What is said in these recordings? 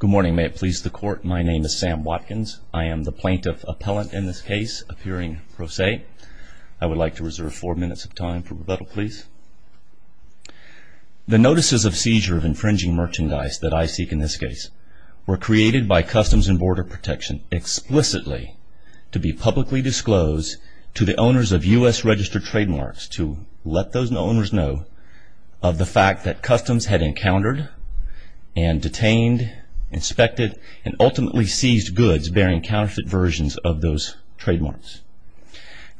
Good morning may it please the court my name is Sam Watkins I am the plaintiff appellant in this case appearing pro se I would like to reserve four minutes of time for rebuttal please. The notices of seizure of infringing merchandise that I seek in this case were created by Customs and Border Protection explicitly to be publicly disclosed to the owners of US registered trademarks to let those owners know of the fact that Customs had encountered and detained inspected and ultimately seized goods bearing counterfeit versions of those trademarks.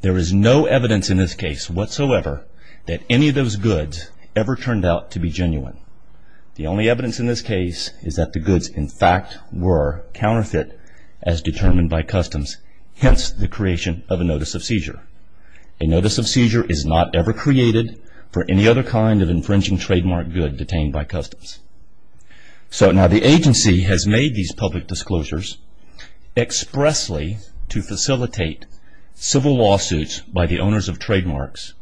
There is no evidence in this case whatsoever that any of those goods ever turned out to be genuine. The only evidence in this case is that the goods in fact were counterfeit as determined by Customs hence the creation of a seizure. A notice of seizure is not ever created for any other kind of infringing trademark good detained by Customs. So now the agency has made these public disclosures expressly to facilitate civil lawsuits by the owners of trademarks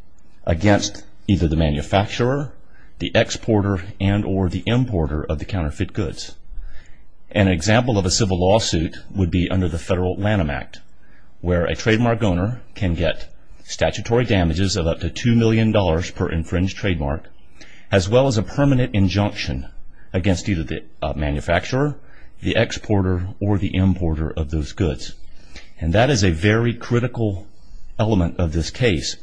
against either the manufacturer, the exporter, and or the importer of the counterfeit goods. An example of a civil lawsuit would be under the Federal Lanham Act where a trademark owner can get statutory damages of up to two million dollars per infringed trademark as well as a permanent injunction against either the manufacturer, the exporter, or the importer of those goods. And that is a very critical element of this case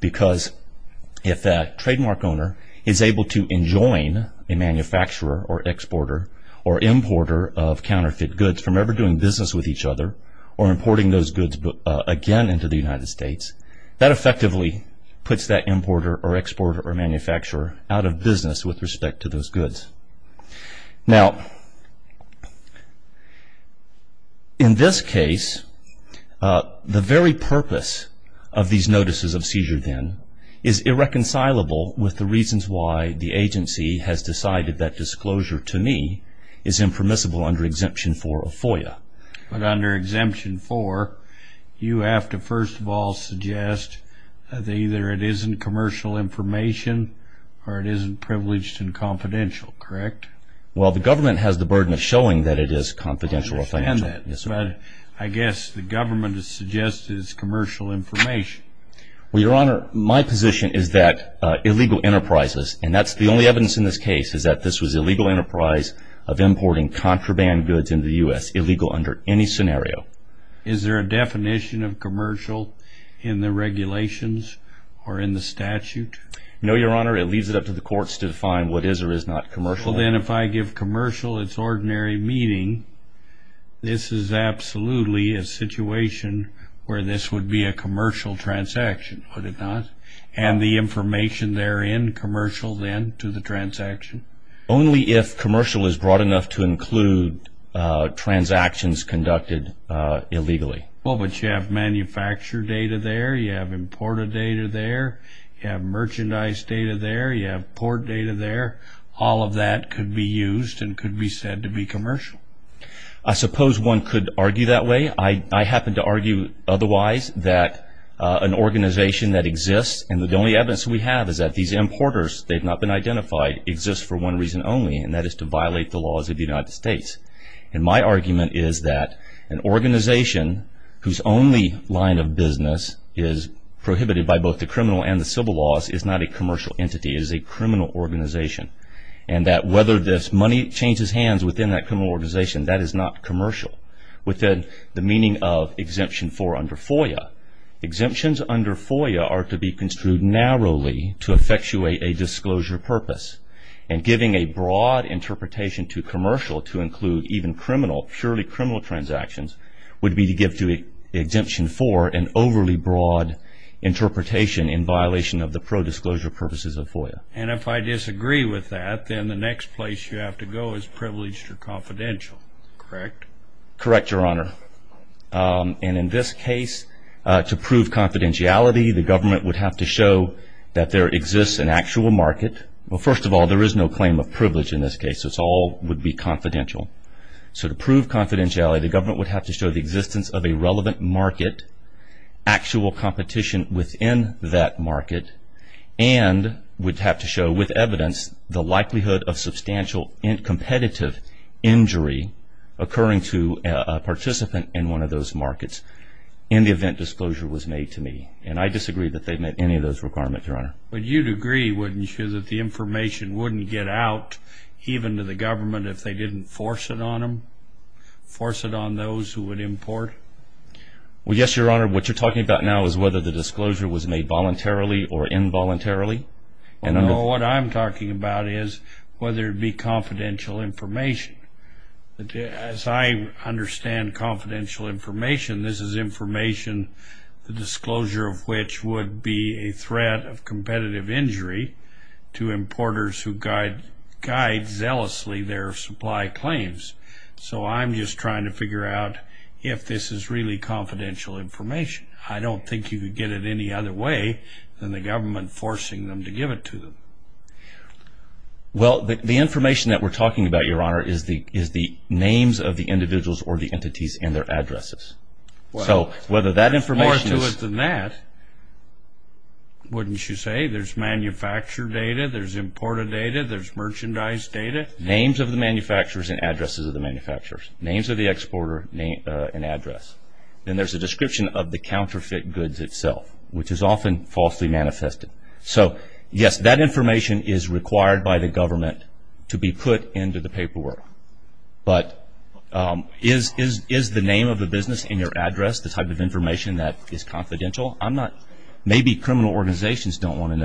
because if that trademark owner is able to enjoin a manufacturer or exporter or importer of each other or importing those goods again into the United States that effectively puts that importer or exporter or manufacturer out of business with respect to those goods. Now in this case the very purpose of these notices of seizure then is irreconcilable with the reasons why the agency has decided that disclosure to me is impermissible under Exemption 4 of FOIA. But under Exemption 4 you have to first of all suggest that either it isn't commercial information or it isn't privileged and confidential, correct? Well the government has the burden of showing that it is confidential or financial. I guess the government has suggested it's commercial information. Well your honor my position is that illegal enterprises and that's the only evidence in this case is that this was illegal enterprise of importing contraband goods in the U.S. illegal under any scenario. Is there a definition of commercial in the regulations or in the statute? No your honor it leaves it up to the courts to define what is or is not commercial. Well then if I give commercial its ordinary meaning this is absolutely a situation where this would be a commercial transaction would it not? And the information therein commercial then to the transaction? Only if commercial is broad enough to include transactions conducted illegally. Well but you have manufactured data there, you have imported data there, you have merchandise data there, you have port data there, all of that could be used and could be said to be commercial. I suppose one could argue that way. I happen to argue otherwise that an organization that exists and the only evidence we have is that these importers they've not been identified exists for one reason only and that is to violate the laws of the United States. And my argument is that an organization whose only line of business is prohibited by both the criminal and the civil laws is not a commercial entity is a criminal organization and that whether this money changes hands within that criminal organization that is not commercial within the meaning of exemption for under FOIA. Exemptions under FOIA are to be construed narrowly to effectuate a disclosure purpose and giving a broad interpretation to commercial to include even criminal, purely criminal transactions would be to give to exemption for an overly broad interpretation in violation of the pro-disclosure purposes of FOIA. And if I disagree with that then the next place you have to go is privileged or confidential, correct? Correct, Your Honor. And in this case to prove confidentiality the government would have to show that there exists an actual market. Well first of all there is no claim of privilege in this case. It's all would be confidential. So to prove confidentiality the government would have to show the existence of a relevant market, actual competition within that market, and would have to show with evidence the likelihood of substantial in competitive injury occurring to a participant in one of those markets in the event disclosure was made to me. And I disagree that they met any of those requirements, Your Honor. But you'd agree, wouldn't you, that the information wouldn't get out even to the government if they didn't force it on them? Force it on those who would import? Well yes, Your Honor. What you're talking about now is whether the disclosure was made voluntarily or involuntarily. No, what I'm talking about is whether it be confidential information. As I understand confidential information this is information the disclosure of which would be a threat of competitive injury to importers who guide zealously their supply claims. So I'm just trying to figure out if this is really confidential information. I don't think you could get it any other way than the government forcing them to give it to them. Well the information that we're talking about, Your Honor, is the information... More to it than that, wouldn't you say, there's manufacturer data, there's importer data, there's merchandise data. Names of the manufacturers and addresses of the manufacturers. Names of the exporter and address. Then there's a description of the counterfeit goods itself, which is often falsely manifested. So yes, that information is required by the government to be put into the paperwork. But is the name of the business in your address the type of information that is confidential? Maybe criminal organizations don't want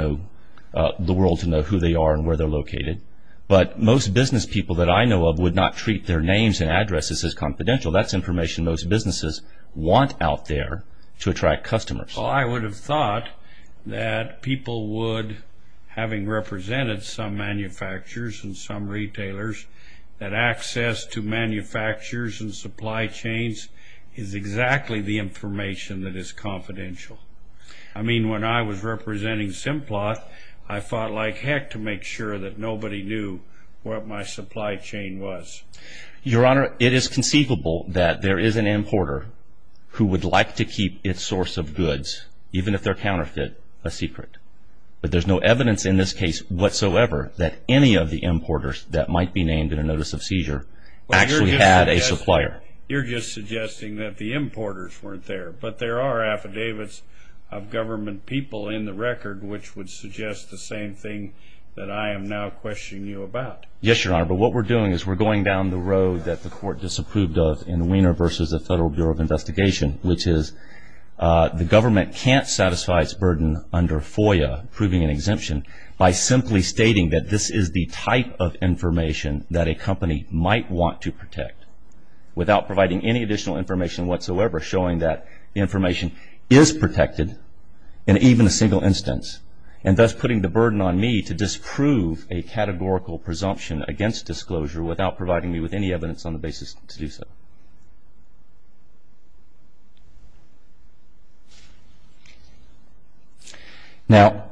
the world to know who they are and where they're located. But most business people that I know of would not treat their names and addresses as confidential. That's information most businesses want out there to attract customers. Well I would have thought that people would, having represented some manufacturers and some retailers, that access to manufacturers and supply chains is exactly the information that is confidential. I mean when I was representing Simplot, I fought like heck to make sure that nobody knew what my supply chain was. Your Honor, it is conceivable that there is an importer who would like to keep its source of goods, even if they're counterfeit, a secret. But there's no evidence in this case whatsoever that any of the importers that might be named in a notice of seizure actually had a supplier. You're just suggesting that the importers weren't there. But there are affidavits of government people in the record which would suggest the same thing that I am now questioning you about. Yes, Your Honor, but what we're doing is we're going down the road that the court disapproved of in Wiener versus the Federal Bureau of Investigation, which is the government can't satisfy its burden under FOIA, proving an exemption, by simply stating that this is the type of information that a company might want to protect, without providing any additional information whatsoever, showing that information is protected in even a single instance, and thus putting the burden on me to disprove a categorical presumption against disclosure without providing me with any evidence on the basis to do so. Now,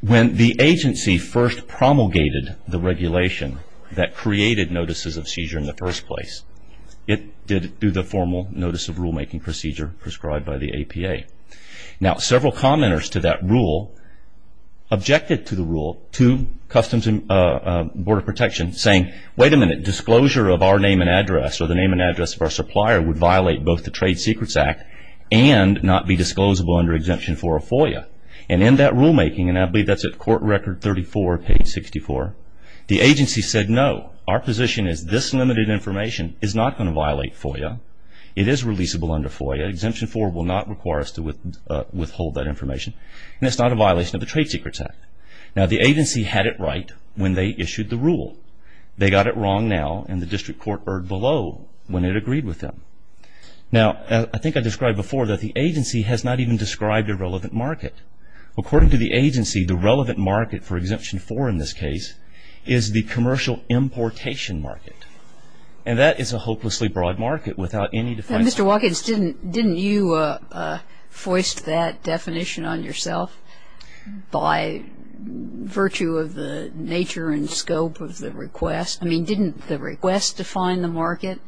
when the agency first promulgated the regulation that created notices of seizure in the first place, it did do the formal notice of rulemaking procedure prescribed by the APA. Now, several commenters to that rule objected to the rule to Customs and Border Protection, saying, wait a minute, disclosure of our name and address or the name and address of our supplier would violate both the Trade Secrets Act and not be disclosable under exemption for a FOIA. And in that rulemaking, and I believe that's at court record 34, page 64, the agency said, no, our position is this limited information is not going to violate FOIA. It is releasable under FOIA. Exemption 4 will not require us to withhold that information, and it's not a violation of the Trade Secrets Act. Now, the agency had it right when they issued the rule. They got it wrong now, and the district court erred below when it agreed with them. Now, I think I described before that the agency has not even described a relevant market. According to the agency, the relevant market for Exemption 4 in this case is the commercial importation market, and that is a hopelessly broad market without any definition. And Mr. Watkins, didn't you foist that definition on yourself by virtue of the nature and scope of the request? I mean, didn't the request define the market?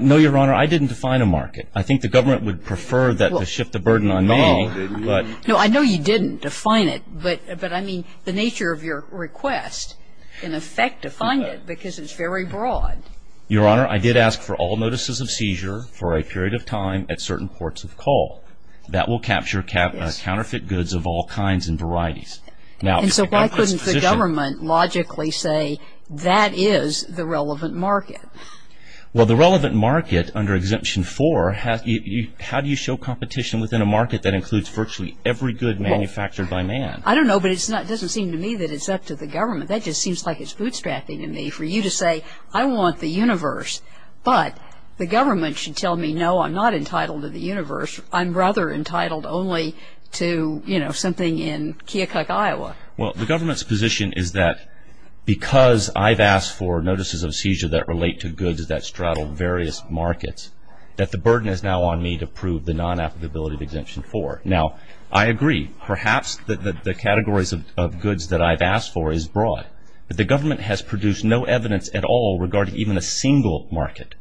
No, Your Honor. I didn't define a market. I think the government would prefer that to shift the burden on me, but No, I know you didn't define it, but I mean, the nature of your request, in effect, defined it because it's very broad. Your Honor, I did ask for all notices of seizure for a period of time at certain ports of call. That will capture counterfeit goods of all kinds and varieties. And so why couldn't the government logically say that is the relevant market? Well, the relevant market under Exemption 4, how do you show competition within a market that includes virtually every good manufactured by man? I don't know, but it doesn't seem to me that it's up to the government. That just seems like it's bootstrapping to me for you to say, I want the universe, but the government should tell me, no, I'm not entitled to the universe. I'm rather entitled only to, you know, something in Keokuk, Iowa. Well, the government's position is that because I've asked for notices of seizure that relate to goods that straddle various markets, that the burden is now on me to prove the non-applicability of Exemption 4. Now, I agree, perhaps, that the categories of goods that I've asked for is broad. But the government has produced no evidence at all regarding even a single market.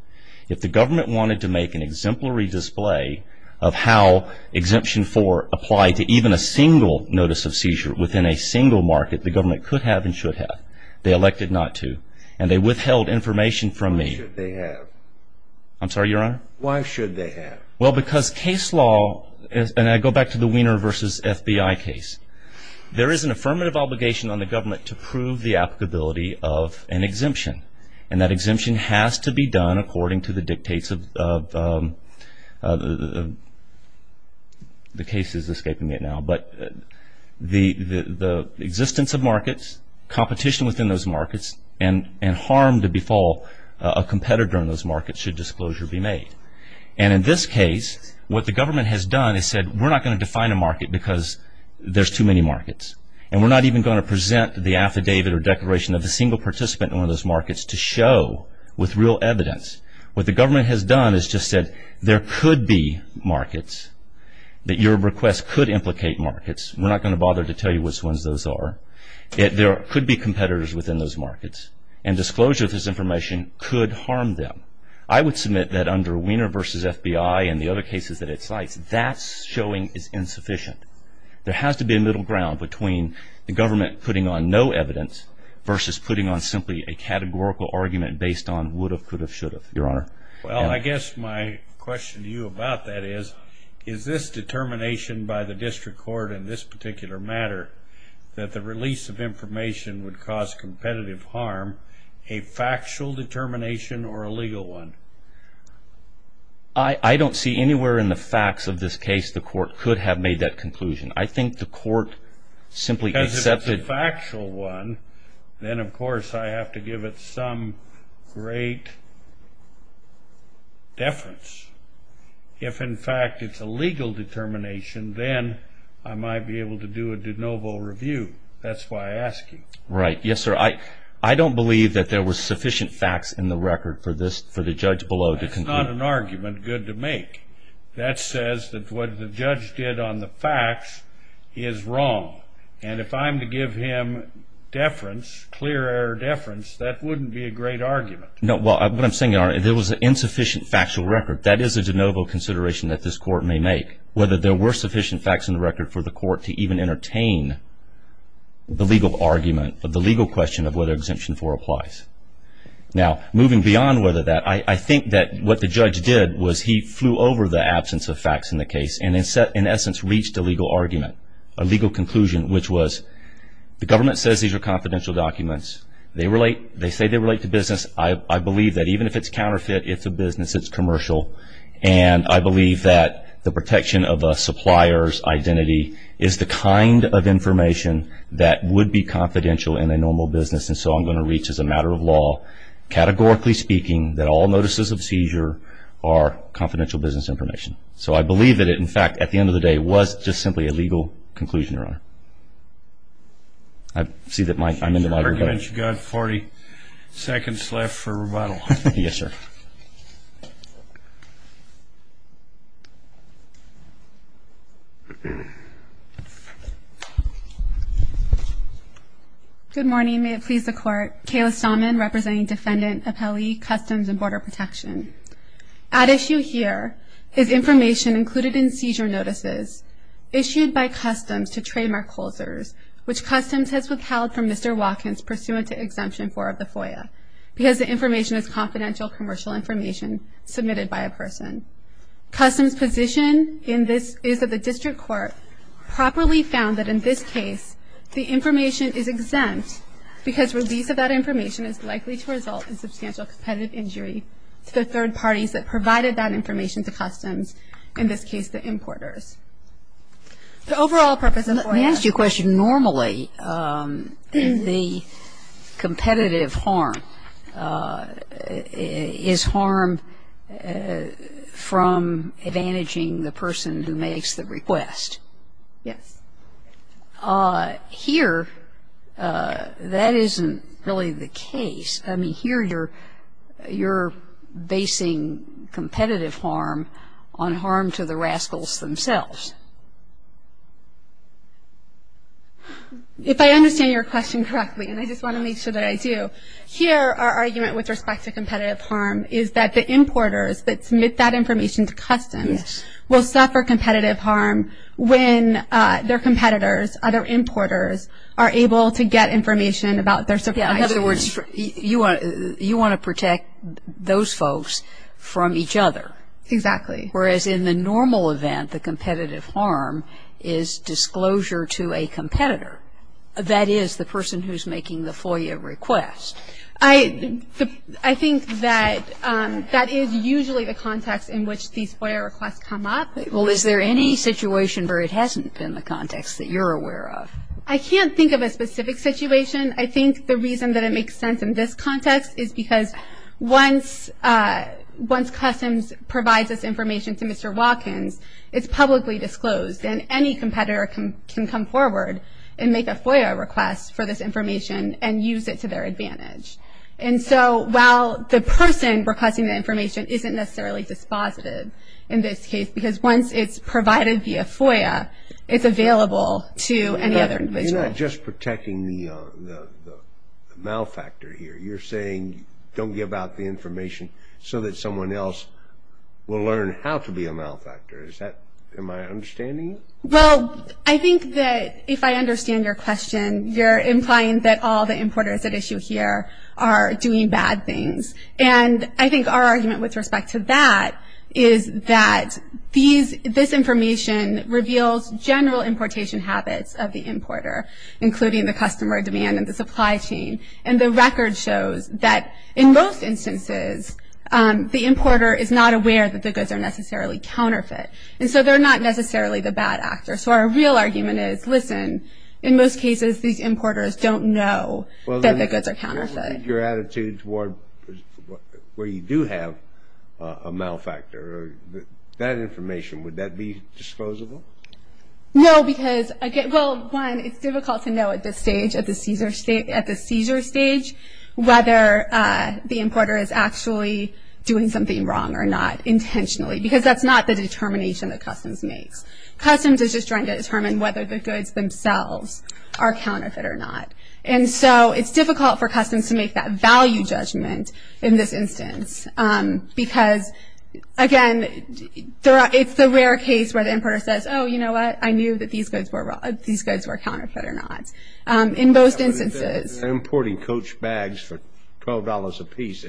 If the government wanted to make an exemplary display of how Exemption 4 applied to even a single notice of seizure within a single market, the government could have and should have. They elected not to. And they withheld information from me. Why should they have? I'm sorry, Your Honor? Why should they have? Well, because case law, and I go back to the Weiner versus FBI case, there is an affirmative obligation on the government to prove the applicability of an exemption. And that exemption has to be done according to the dictates of, the case is escaping me now. But the existence of markets, competition within those markets, and harm to befall a competitor in those markets should disclosure be made. And in this case, what the government has done is said, we're not going to define a market because there's too many markets. And we're not even going to present the affidavit or declaration of a single participant in one of those markets to show with real evidence. What the government has done is just said, there could be markets that your request could implicate markets. We're not going to bother to tell you which ones those are. There could be competitors within those markets. And disclosure of this information could harm them. I would submit that under Weiner versus FBI and the other cases that it cites, that's showing is insufficient. There has to be a middle ground between the government putting on no evidence versus putting on simply a categorical argument based on would have, could have, should have, Your Honor. Well, I guess my question to you about that is, is this determination by the district court in this particular matter that the release of information would cause competitive harm a factual determination or a legal one? I don't see anywhere in the facts of this case the court could have made that conclusion. I think the court simply accepted. If it's a factual one, then of course I have to give it some great deference. If in fact it's a legal determination, then I might be able to do a de novo review. That's why I ask you. Right. Yes, sir. I don't believe that there was sufficient facts in the record for this, for the judge below to conclude. That's not an argument good to make. That says that what the judge did on the facts is wrong. And if I'm to give him deference, clear error deference, that wouldn't be a great argument. No. Well, what I'm saying, Your Honor, there was an insufficient factual record. That is a de novo consideration that this court may make, whether there were sufficient facts in the record for the court to even entertain the legal argument, the legal question of whether Exemption 4 applies. Now, moving beyond whether that, I think that what the judge did was he flew over the absence of facts in the case and in essence reached a legal argument, a legal conclusion, which was the government says these are confidential documents. They say they relate to business. I believe that even if it's counterfeit, it's a business. It's commercial. And I believe that the protection of a supplier's identity is the kind of information that would be confidential in a normal business. And so I'm going to reach as a matter of law, categorically speaking, that all notices of seizure are confidential business information. So I believe that it, in fact, at the end of the day, was just simply a legal conclusion, Your Honor. I see that my, I'm in the library. Your argument, you've got 40 seconds left for rebuttal. Yes, sir. Good morning. May it please the Court. Kayla Stahman representing Defendant Appellee Customs and Border Protection. At issue here is information included in seizure notices issued by Customs to trademark holders, which Customs has withheld from Mr. Watkins pursuant to Exemption 4 of the FOIA because the information is confidential commercial information submitted by a person. Customs position in this is that the district court properly found that in this case the information is exempt because release of that information is likely to result in substantial competitive injury to the third parties that provided that information to Customs, in this case the importers. The overall purpose of FOIA. Let me ask you a question. Normally the competitive harm is harmed from advantaging the person who makes the request. Yes. Here, that isn't really the case. I mean, here you're basing competitive harm on harm to the rascals themselves. If I understand your question correctly, and I just want to make sure that I do, here our argument with respect to competitive harm is that the importers that submit that information to Customs will suffer competitive harm when their competitors, other importers, are able to get information about their surprises. In other words, you want to protect those folks from each other. Exactly. Whereas in the normal event, the competitive harm is disclosure to a competitor, that is the person who's making the FOIA request. I think that that is usually the context in which these FOIA requests come up. Well, is there any situation where it hasn't been the context that you're aware of? I can't think of a specific situation. I think the reason that it makes sense in this context is because once Customs provides this information to Mr. Watkins, it's publicly disclosed. And any competitor can come forward and make a FOIA request for this information and use it to their advantage. And so, while the person requesting the information isn't necessarily dispositive in this case, because once it's provided via FOIA, it's available to any other individual. You're not just protecting the malfactor here. You're saying don't give out the information so that someone else will learn how to be a malfactor. Is that, am I understanding it? Well, I think that if I understand your question, you're implying that all the importers at issue here are doing bad things. And I think our argument with respect to that is that this information reveals general importation habits of the importer, including the customer demand and the supply chain. And the record shows that in most instances, the importer is not aware that the goods are necessarily counterfeit. And so, they're not necessarily the bad actor. So, our real argument is, listen, in most cases, these importers don't know that the goods are counterfeit. Your attitude toward where you do have a malfactor, that information, would that be disposable? No, because, well, one, it's difficult to know at this stage, at the seizure stage, whether the importer is actually doing something wrong or not intentionally. Because that's not the determination that Customs makes. Customs is just trying to determine whether the goods themselves are counterfeit or not. And so, it's difficult for Customs to make that value judgment in this instance. Because, again, it's the rare case where the importer says, oh, you know what, I knew that these goods were counterfeit or not. In most instances. They're importing coach bags for $12 apiece.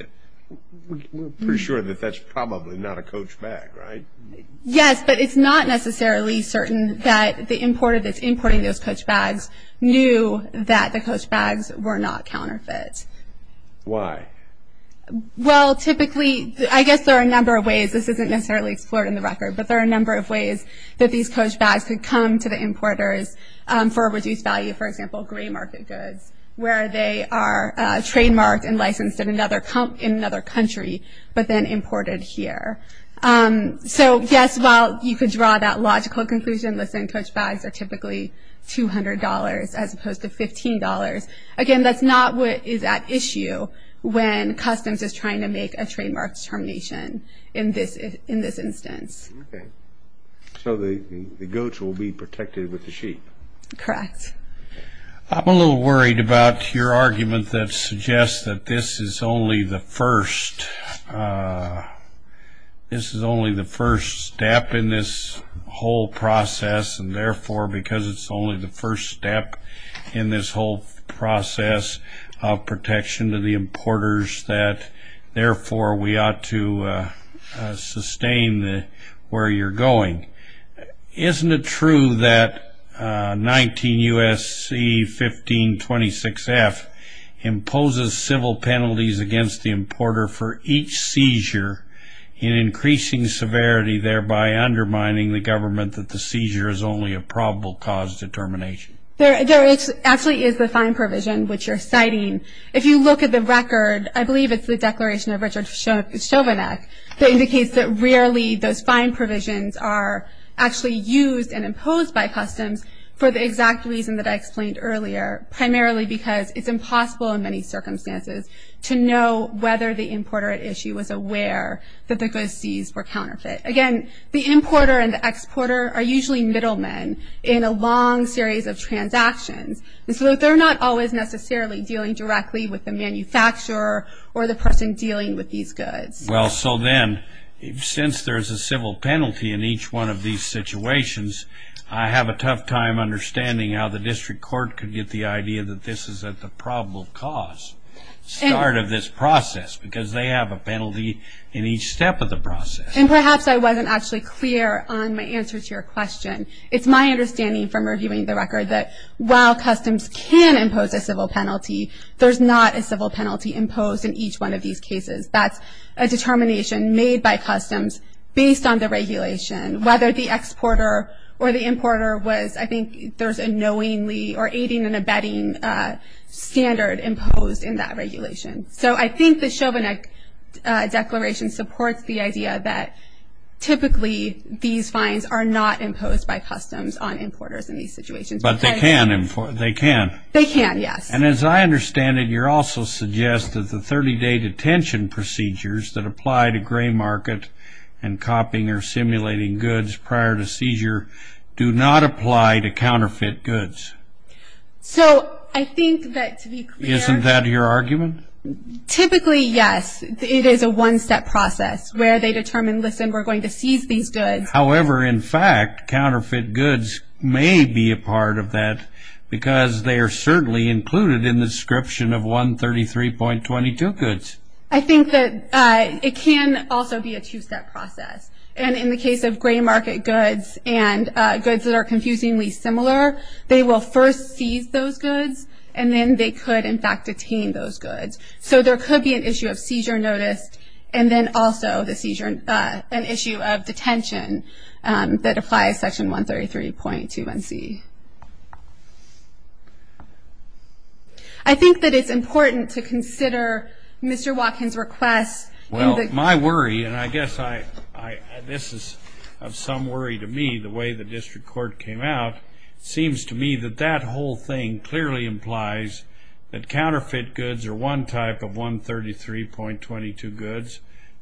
We're pretty sure that that's probably not a coach bag, right? Yes, but it's not necessarily certain that the importer that's importing those coach bags knew that the coach bags were not counterfeit. Why? Well, typically, I guess there are a number of ways. This isn't necessarily explored in the record, but there are a number of ways that these coach bags could come to the importers for a reduced value. For example, gray market goods, where they are trademarked and licensed in another country, but then imported here. So, yes, while you could draw that logical conclusion, let's say coach bags are typically $200 as opposed to $15. Again, that's not what is at issue when Customs is trying to make a trademark determination in this instance. So, the goats will be protected with the sheep? Correct. I'm a little worried about your argument that suggests that this is only the first step in this whole process, and therefore, because it's only the first step in this whole process of protection to the importers, that therefore, we ought to sustain where you're going. Isn't it true that 19 U.S.C. 1526F imposes civil penalties against the importer for each seizure in increasing severity, thereby undermining the government that the seizure is only a probable cause determination? There actually is a fine provision, which you're citing. If you look at the record, I believe it's the Declaration of Richard Schovanec that indicates that rarely those fine provisions are actually used and imposed by Customs for the exact reason that I explained earlier, primarily because it's impossible in many circumstances to know whether the importer at issue was aware that the goods seized were counterfeit. Again, the importer and the exporter are usually middlemen in a long series of transactions, and so they're not always necessarily dealing directly with the manufacturer or the person dealing with these goods. Well, so then, since there's a civil penalty in each one of these situations, I have a tough time understanding how the District Court could get the idea that this is at the probable cause start of this process, because they have a penalty in each step of the process. And perhaps I wasn't actually clear on my answer to your question. It's my understanding from reviewing the record that while Customs can impose a civil penalty, there's not a civil penalty imposed in each one of these cases. That's a determination made by Customs based on the regulation, whether the exporter or the importer was, I think, there's a knowingly or aiding and abetting standard imposed in that regulation. So I think the Chovanec Declaration supports the idea that typically these fines are not imposed by Customs on importers in these situations. But they can. They can. They can, yes. And as I understand it, you're also suggest that the 30-day detention procedures that apply to gray market and copying or simulating goods prior to seizure do not apply to counterfeit goods. So I think that to be clear. Isn't that your argument? Typically, yes. It is a one-step process where they determine, listen, we're going to seize these goods. However, in fact, counterfeit goods may be a part of that because they are certainly included in the description of 133.22 goods. I think that it can also be a two-step process. And in the case of gray market goods and goods that are confusingly similar, they will first seize those goods. And then they could, in fact, detain those goods. So there could be an issue of seizure notice and then also an issue of detention that applies Section 133.21c. I think that it's important to consider Mr. Watkins' request. Well, my worry, and I guess this is of some worry to me, the way the district court came out, seems to me that that whole thing clearly implies that counterfeit goods are one type of 133.22 goods.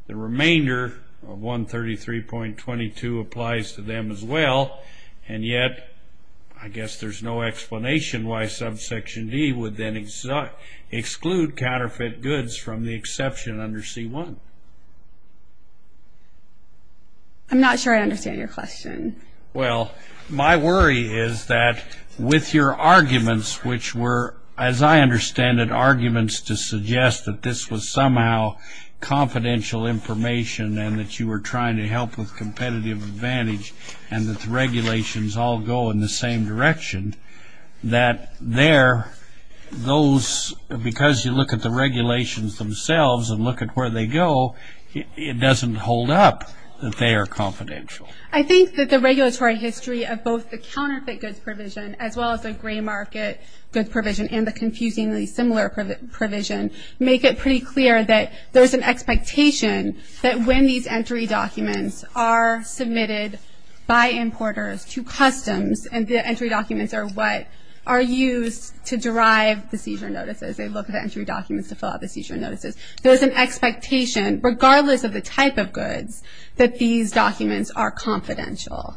The remainder of 133.22 applies to them as well. And yet, I guess there's no explanation why subsection D would then exclude counterfeit goods from the exception under c1. I'm not sure I understand your question. Well, my worry is that with your arguments, which were, as I understand it, to suggest that this was somehow confidential information and that you were trying to help with competitive advantage and that the regulations all go in the same direction, that there, those, because you look at the regulations themselves and look at where they go, it doesn't hold up that they are confidential. I think that the regulatory history of both the counterfeit goods provision as well as the gray market goods provision and the confusingly similar provision make it pretty clear that there's an expectation that when these entry documents are submitted by importers to customs and the entry documents are what are used to derive the seizure notices, they look at the entry documents to fill out the seizure notices, there's an expectation, regardless of the type of goods, that these documents are confidential.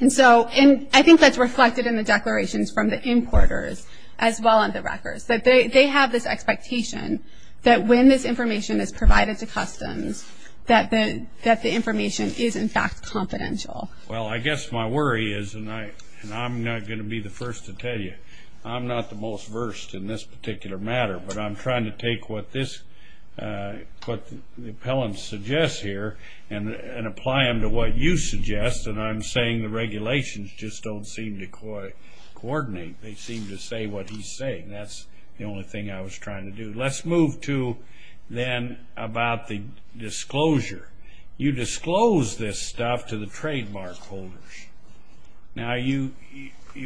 And so, and I think that's reflected in the declarations from the importers as well on the records, that they have this expectation that when this information is provided to customs, that the information is in fact confidential. Well, I guess my worry is, and I'm not going to be the first to tell you, I'm not the most versed in this particular matter, but I'm trying to take what this, what the appellant suggests here and apply them to what you suggest, and I'm saying the regulations just don't seem to coordinate. They seem to say what he's saying. That's the only thing I was trying to do. Let's move to then about the disclosure. You disclose this stuff to the trademark holders. Now, you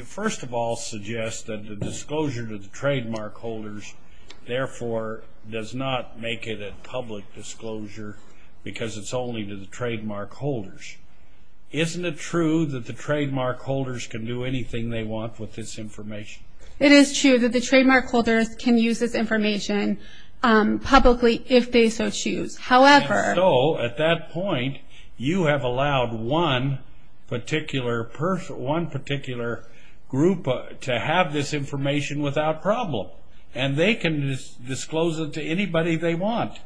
first of all suggest that the disclosure to the trademark holders, therefore, does not make it a public disclosure because it's only to the trademark holders. Isn't it true that the trademark holders can do anything they want with this information? It is true that the trademark holders can use this information publicly if they so choose. However. So, at that point, you have allowed one particular person, one particular group to have this information without problem, and they can disclose it to anybody they want.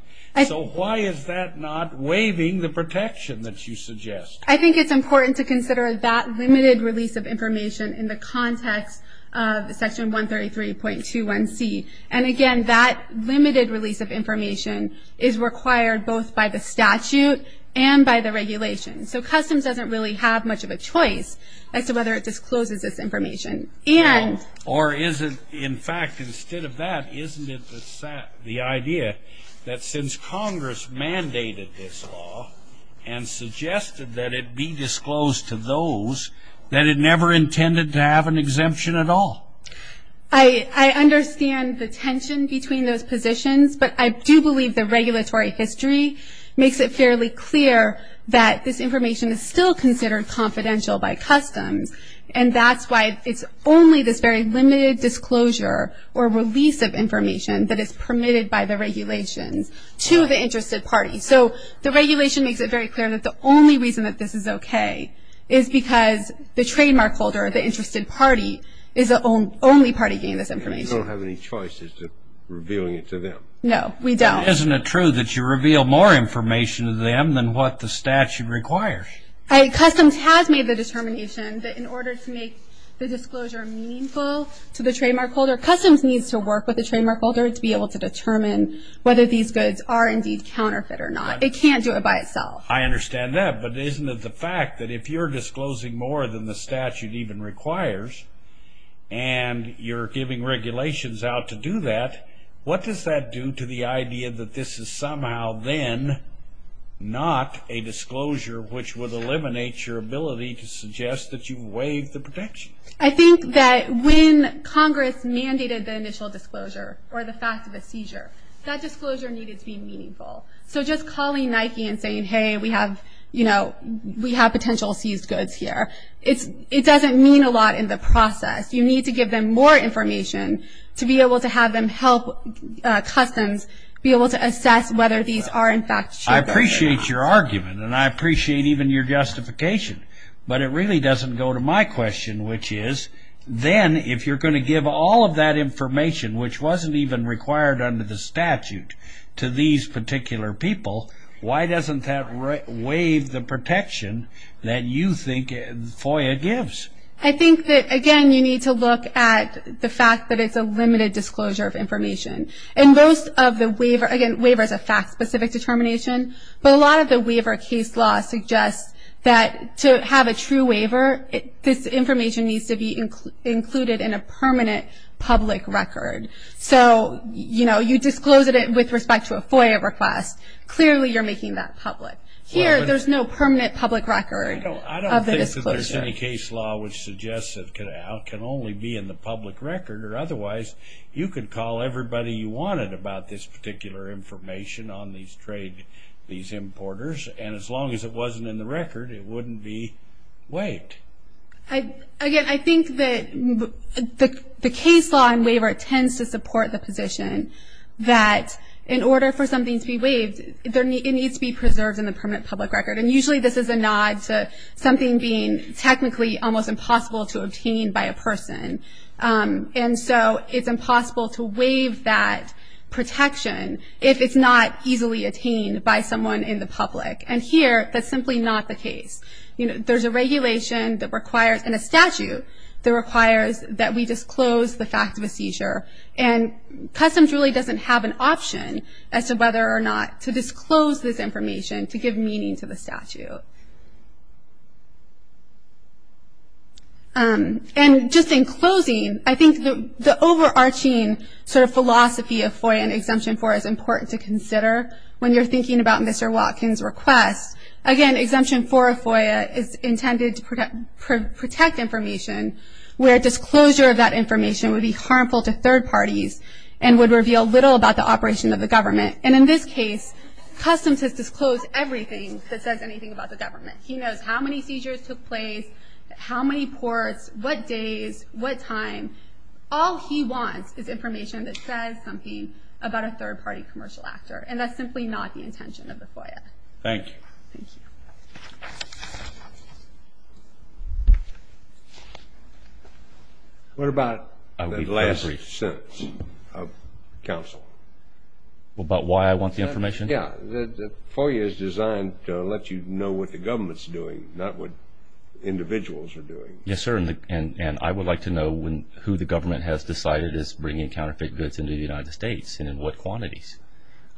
So, why is that not waiving the protection that you suggest? I think it's important to consider that limited release of information in the context of Section 133.21c, and again, that limited release of information is required both by the statute and by the regulations. So, Customs doesn't really have much of a choice as to whether it discloses this information, and. Or is it, in fact, instead of that, isn't it the idea that since Congress mandated this law and suggested that it be disclosed to those, that it never intended to have an exemption at all? I understand the tension between those positions, but I do believe the regulatory history makes it fairly clear that this information is still considered confidential by Customs, and that's why it's only this very limited disclosure or release of information that is permitted by the regulations to the interested party. So, the regulation makes it very clear that the only reason that this is okay is because the trademark holder, the interested party, is the only party getting this information. You don't have any choice as to revealing it to them. No, we don't. Isn't it true that you reveal more information to them than what the statute requires? Customs has made the determination that in order to make the disclosure meaningful to the trademark holder, Customs needs to work with the trademark holder to be able to determine whether these goods are indeed counterfeit or not. It can't do it by itself. I understand that, but isn't it the fact that if you're disclosing more than the statute even requires, and you're giving regulations out to do that, what does that do to the idea that this is somehow then not a disclosure which would eliminate your ability to suggest that you waive the protection? I think that when Congress mandated the initial disclosure or the fact of a seizure, that disclosure needed to be meaningful. So, just calling Nike and saying, hey, we have, you know, we have potential seized goods here, it doesn't mean a lot in the process. You need to give them more information to be able to have them help Customs be able to assess whether these are in fact counterfeit or not. I appreciate your argument, and I appreciate even your justification. But it really doesn't go to my question, which is then if you're going to give all of that information, which wasn't even required under the statute to these particular people, why doesn't that waive the protection that you think FOIA gives? I think that, again, you need to look at the fact that it's a limited disclosure of information. And most of the waiver, again, waiver is a fact-specific determination, but a lot of the waiver case law suggests that to have a true waiver, this information needs to be included in a permanent public record. So, you know, you disclosed it with respect to a FOIA request. Clearly, you're making that public. Here, there's no permanent public record of the disclosure. Well, there's any case law which suggests it can only be in the public record, or otherwise you could call everybody you wanted about this particular information on these trade, these importers. And as long as it wasn't in the record, it wouldn't be waived. Again, I think that the case law in waiver tends to support the position that in order for something to be waived, it needs to be preserved in the permanent public record. And usually, this is a nod to something being technically almost impossible to obtain by a person. And so, it's impossible to waive that protection if it's not easily attained by someone in the public. And here, that's simply not the case. You know, there's a regulation that requires, and a statute, that requires that we disclose the fact of a seizure. And customs really doesn't have an option as to whether or not to disclose this information to give meaning to the statute. And just in closing, I think the overarching sort of philosophy of FOIA and Exemption 4 is important to consider when you're thinking about Mr. Watkins' request. Again, Exemption 4 of FOIA is intended to protect information where disclosure of that information would be harmful to third parties and would reveal little about the operation of the government. And in this case, customs has disclosed everything that says anything about the government. He knows how many seizures took place, how many ports, what days, what time. All he wants is information that says something about a third-party commercial actor. And that's simply not the intention of the FOIA. Thank you. Thank you. What about the last three sentences of counsel? Well, about why I want the information? Yeah. The FOIA is designed to let you know what the government's doing, not what individuals are doing. Yes, sir. And I would like to know who the government has decided is bringing counterfeit goods into the United States and in what quantities.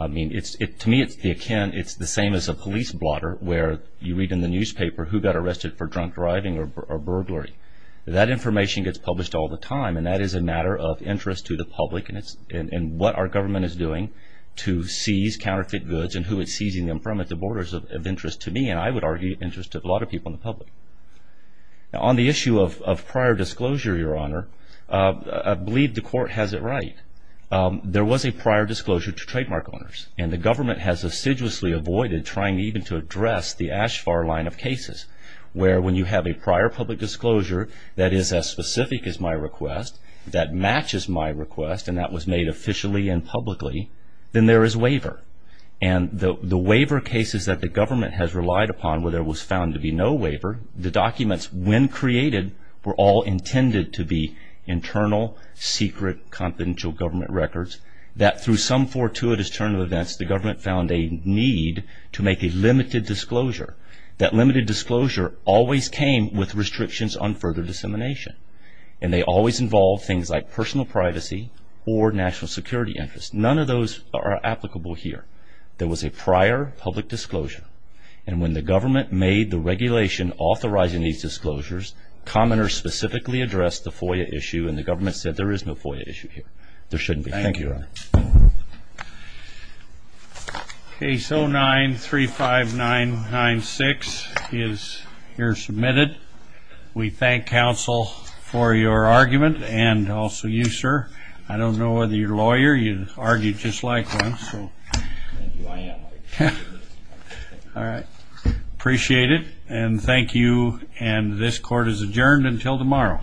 I mean, to me, it's the akin, it's the same as a police blotter where you read in the newspaper who got arrested for drunk driving or burglary. That information gets published all the time, and that is a matter of interest to the public. And what our government is doing to seize counterfeit goods and who it's seizing them from at the borders of interest to me, and I would argue interest to a lot of people in the public. Now, on the issue of prior disclosure, Your Honor, I believe the court has it right. There was a prior disclosure to trademark owners. And the government has assiduously avoided trying even to address the ASH FAR line of cases where when you have a prior public disclosure that is as specific as my request, that matches my request, and that was made officially and publicly, then there is waiver. And the waiver cases that the government has relied upon where there was found to be no waiver, the documents when created were all intended to be internal, secret, confidential government records that through some fortuitous turn of events, the government found a need to make a limited disclosure. That limited disclosure always came with restrictions on further dissemination. And they always involved things like personal privacy or national security interest. None of those are applicable here. There was a prior public disclosure. And when the government made the regulation authorizing these disclosures, commenters specifically addressed the FOIA issue and the government said there is no FOIA issue here. There shouldn't be. Thank you, Your Honor. Case 09-35996 is here submitted. We thank counsel for your argument and also you, sir. I don't know whether you're a lawyer. You argued just like one. So, all right. Appreciate it and thank you and this court is adjourned until tomorrow.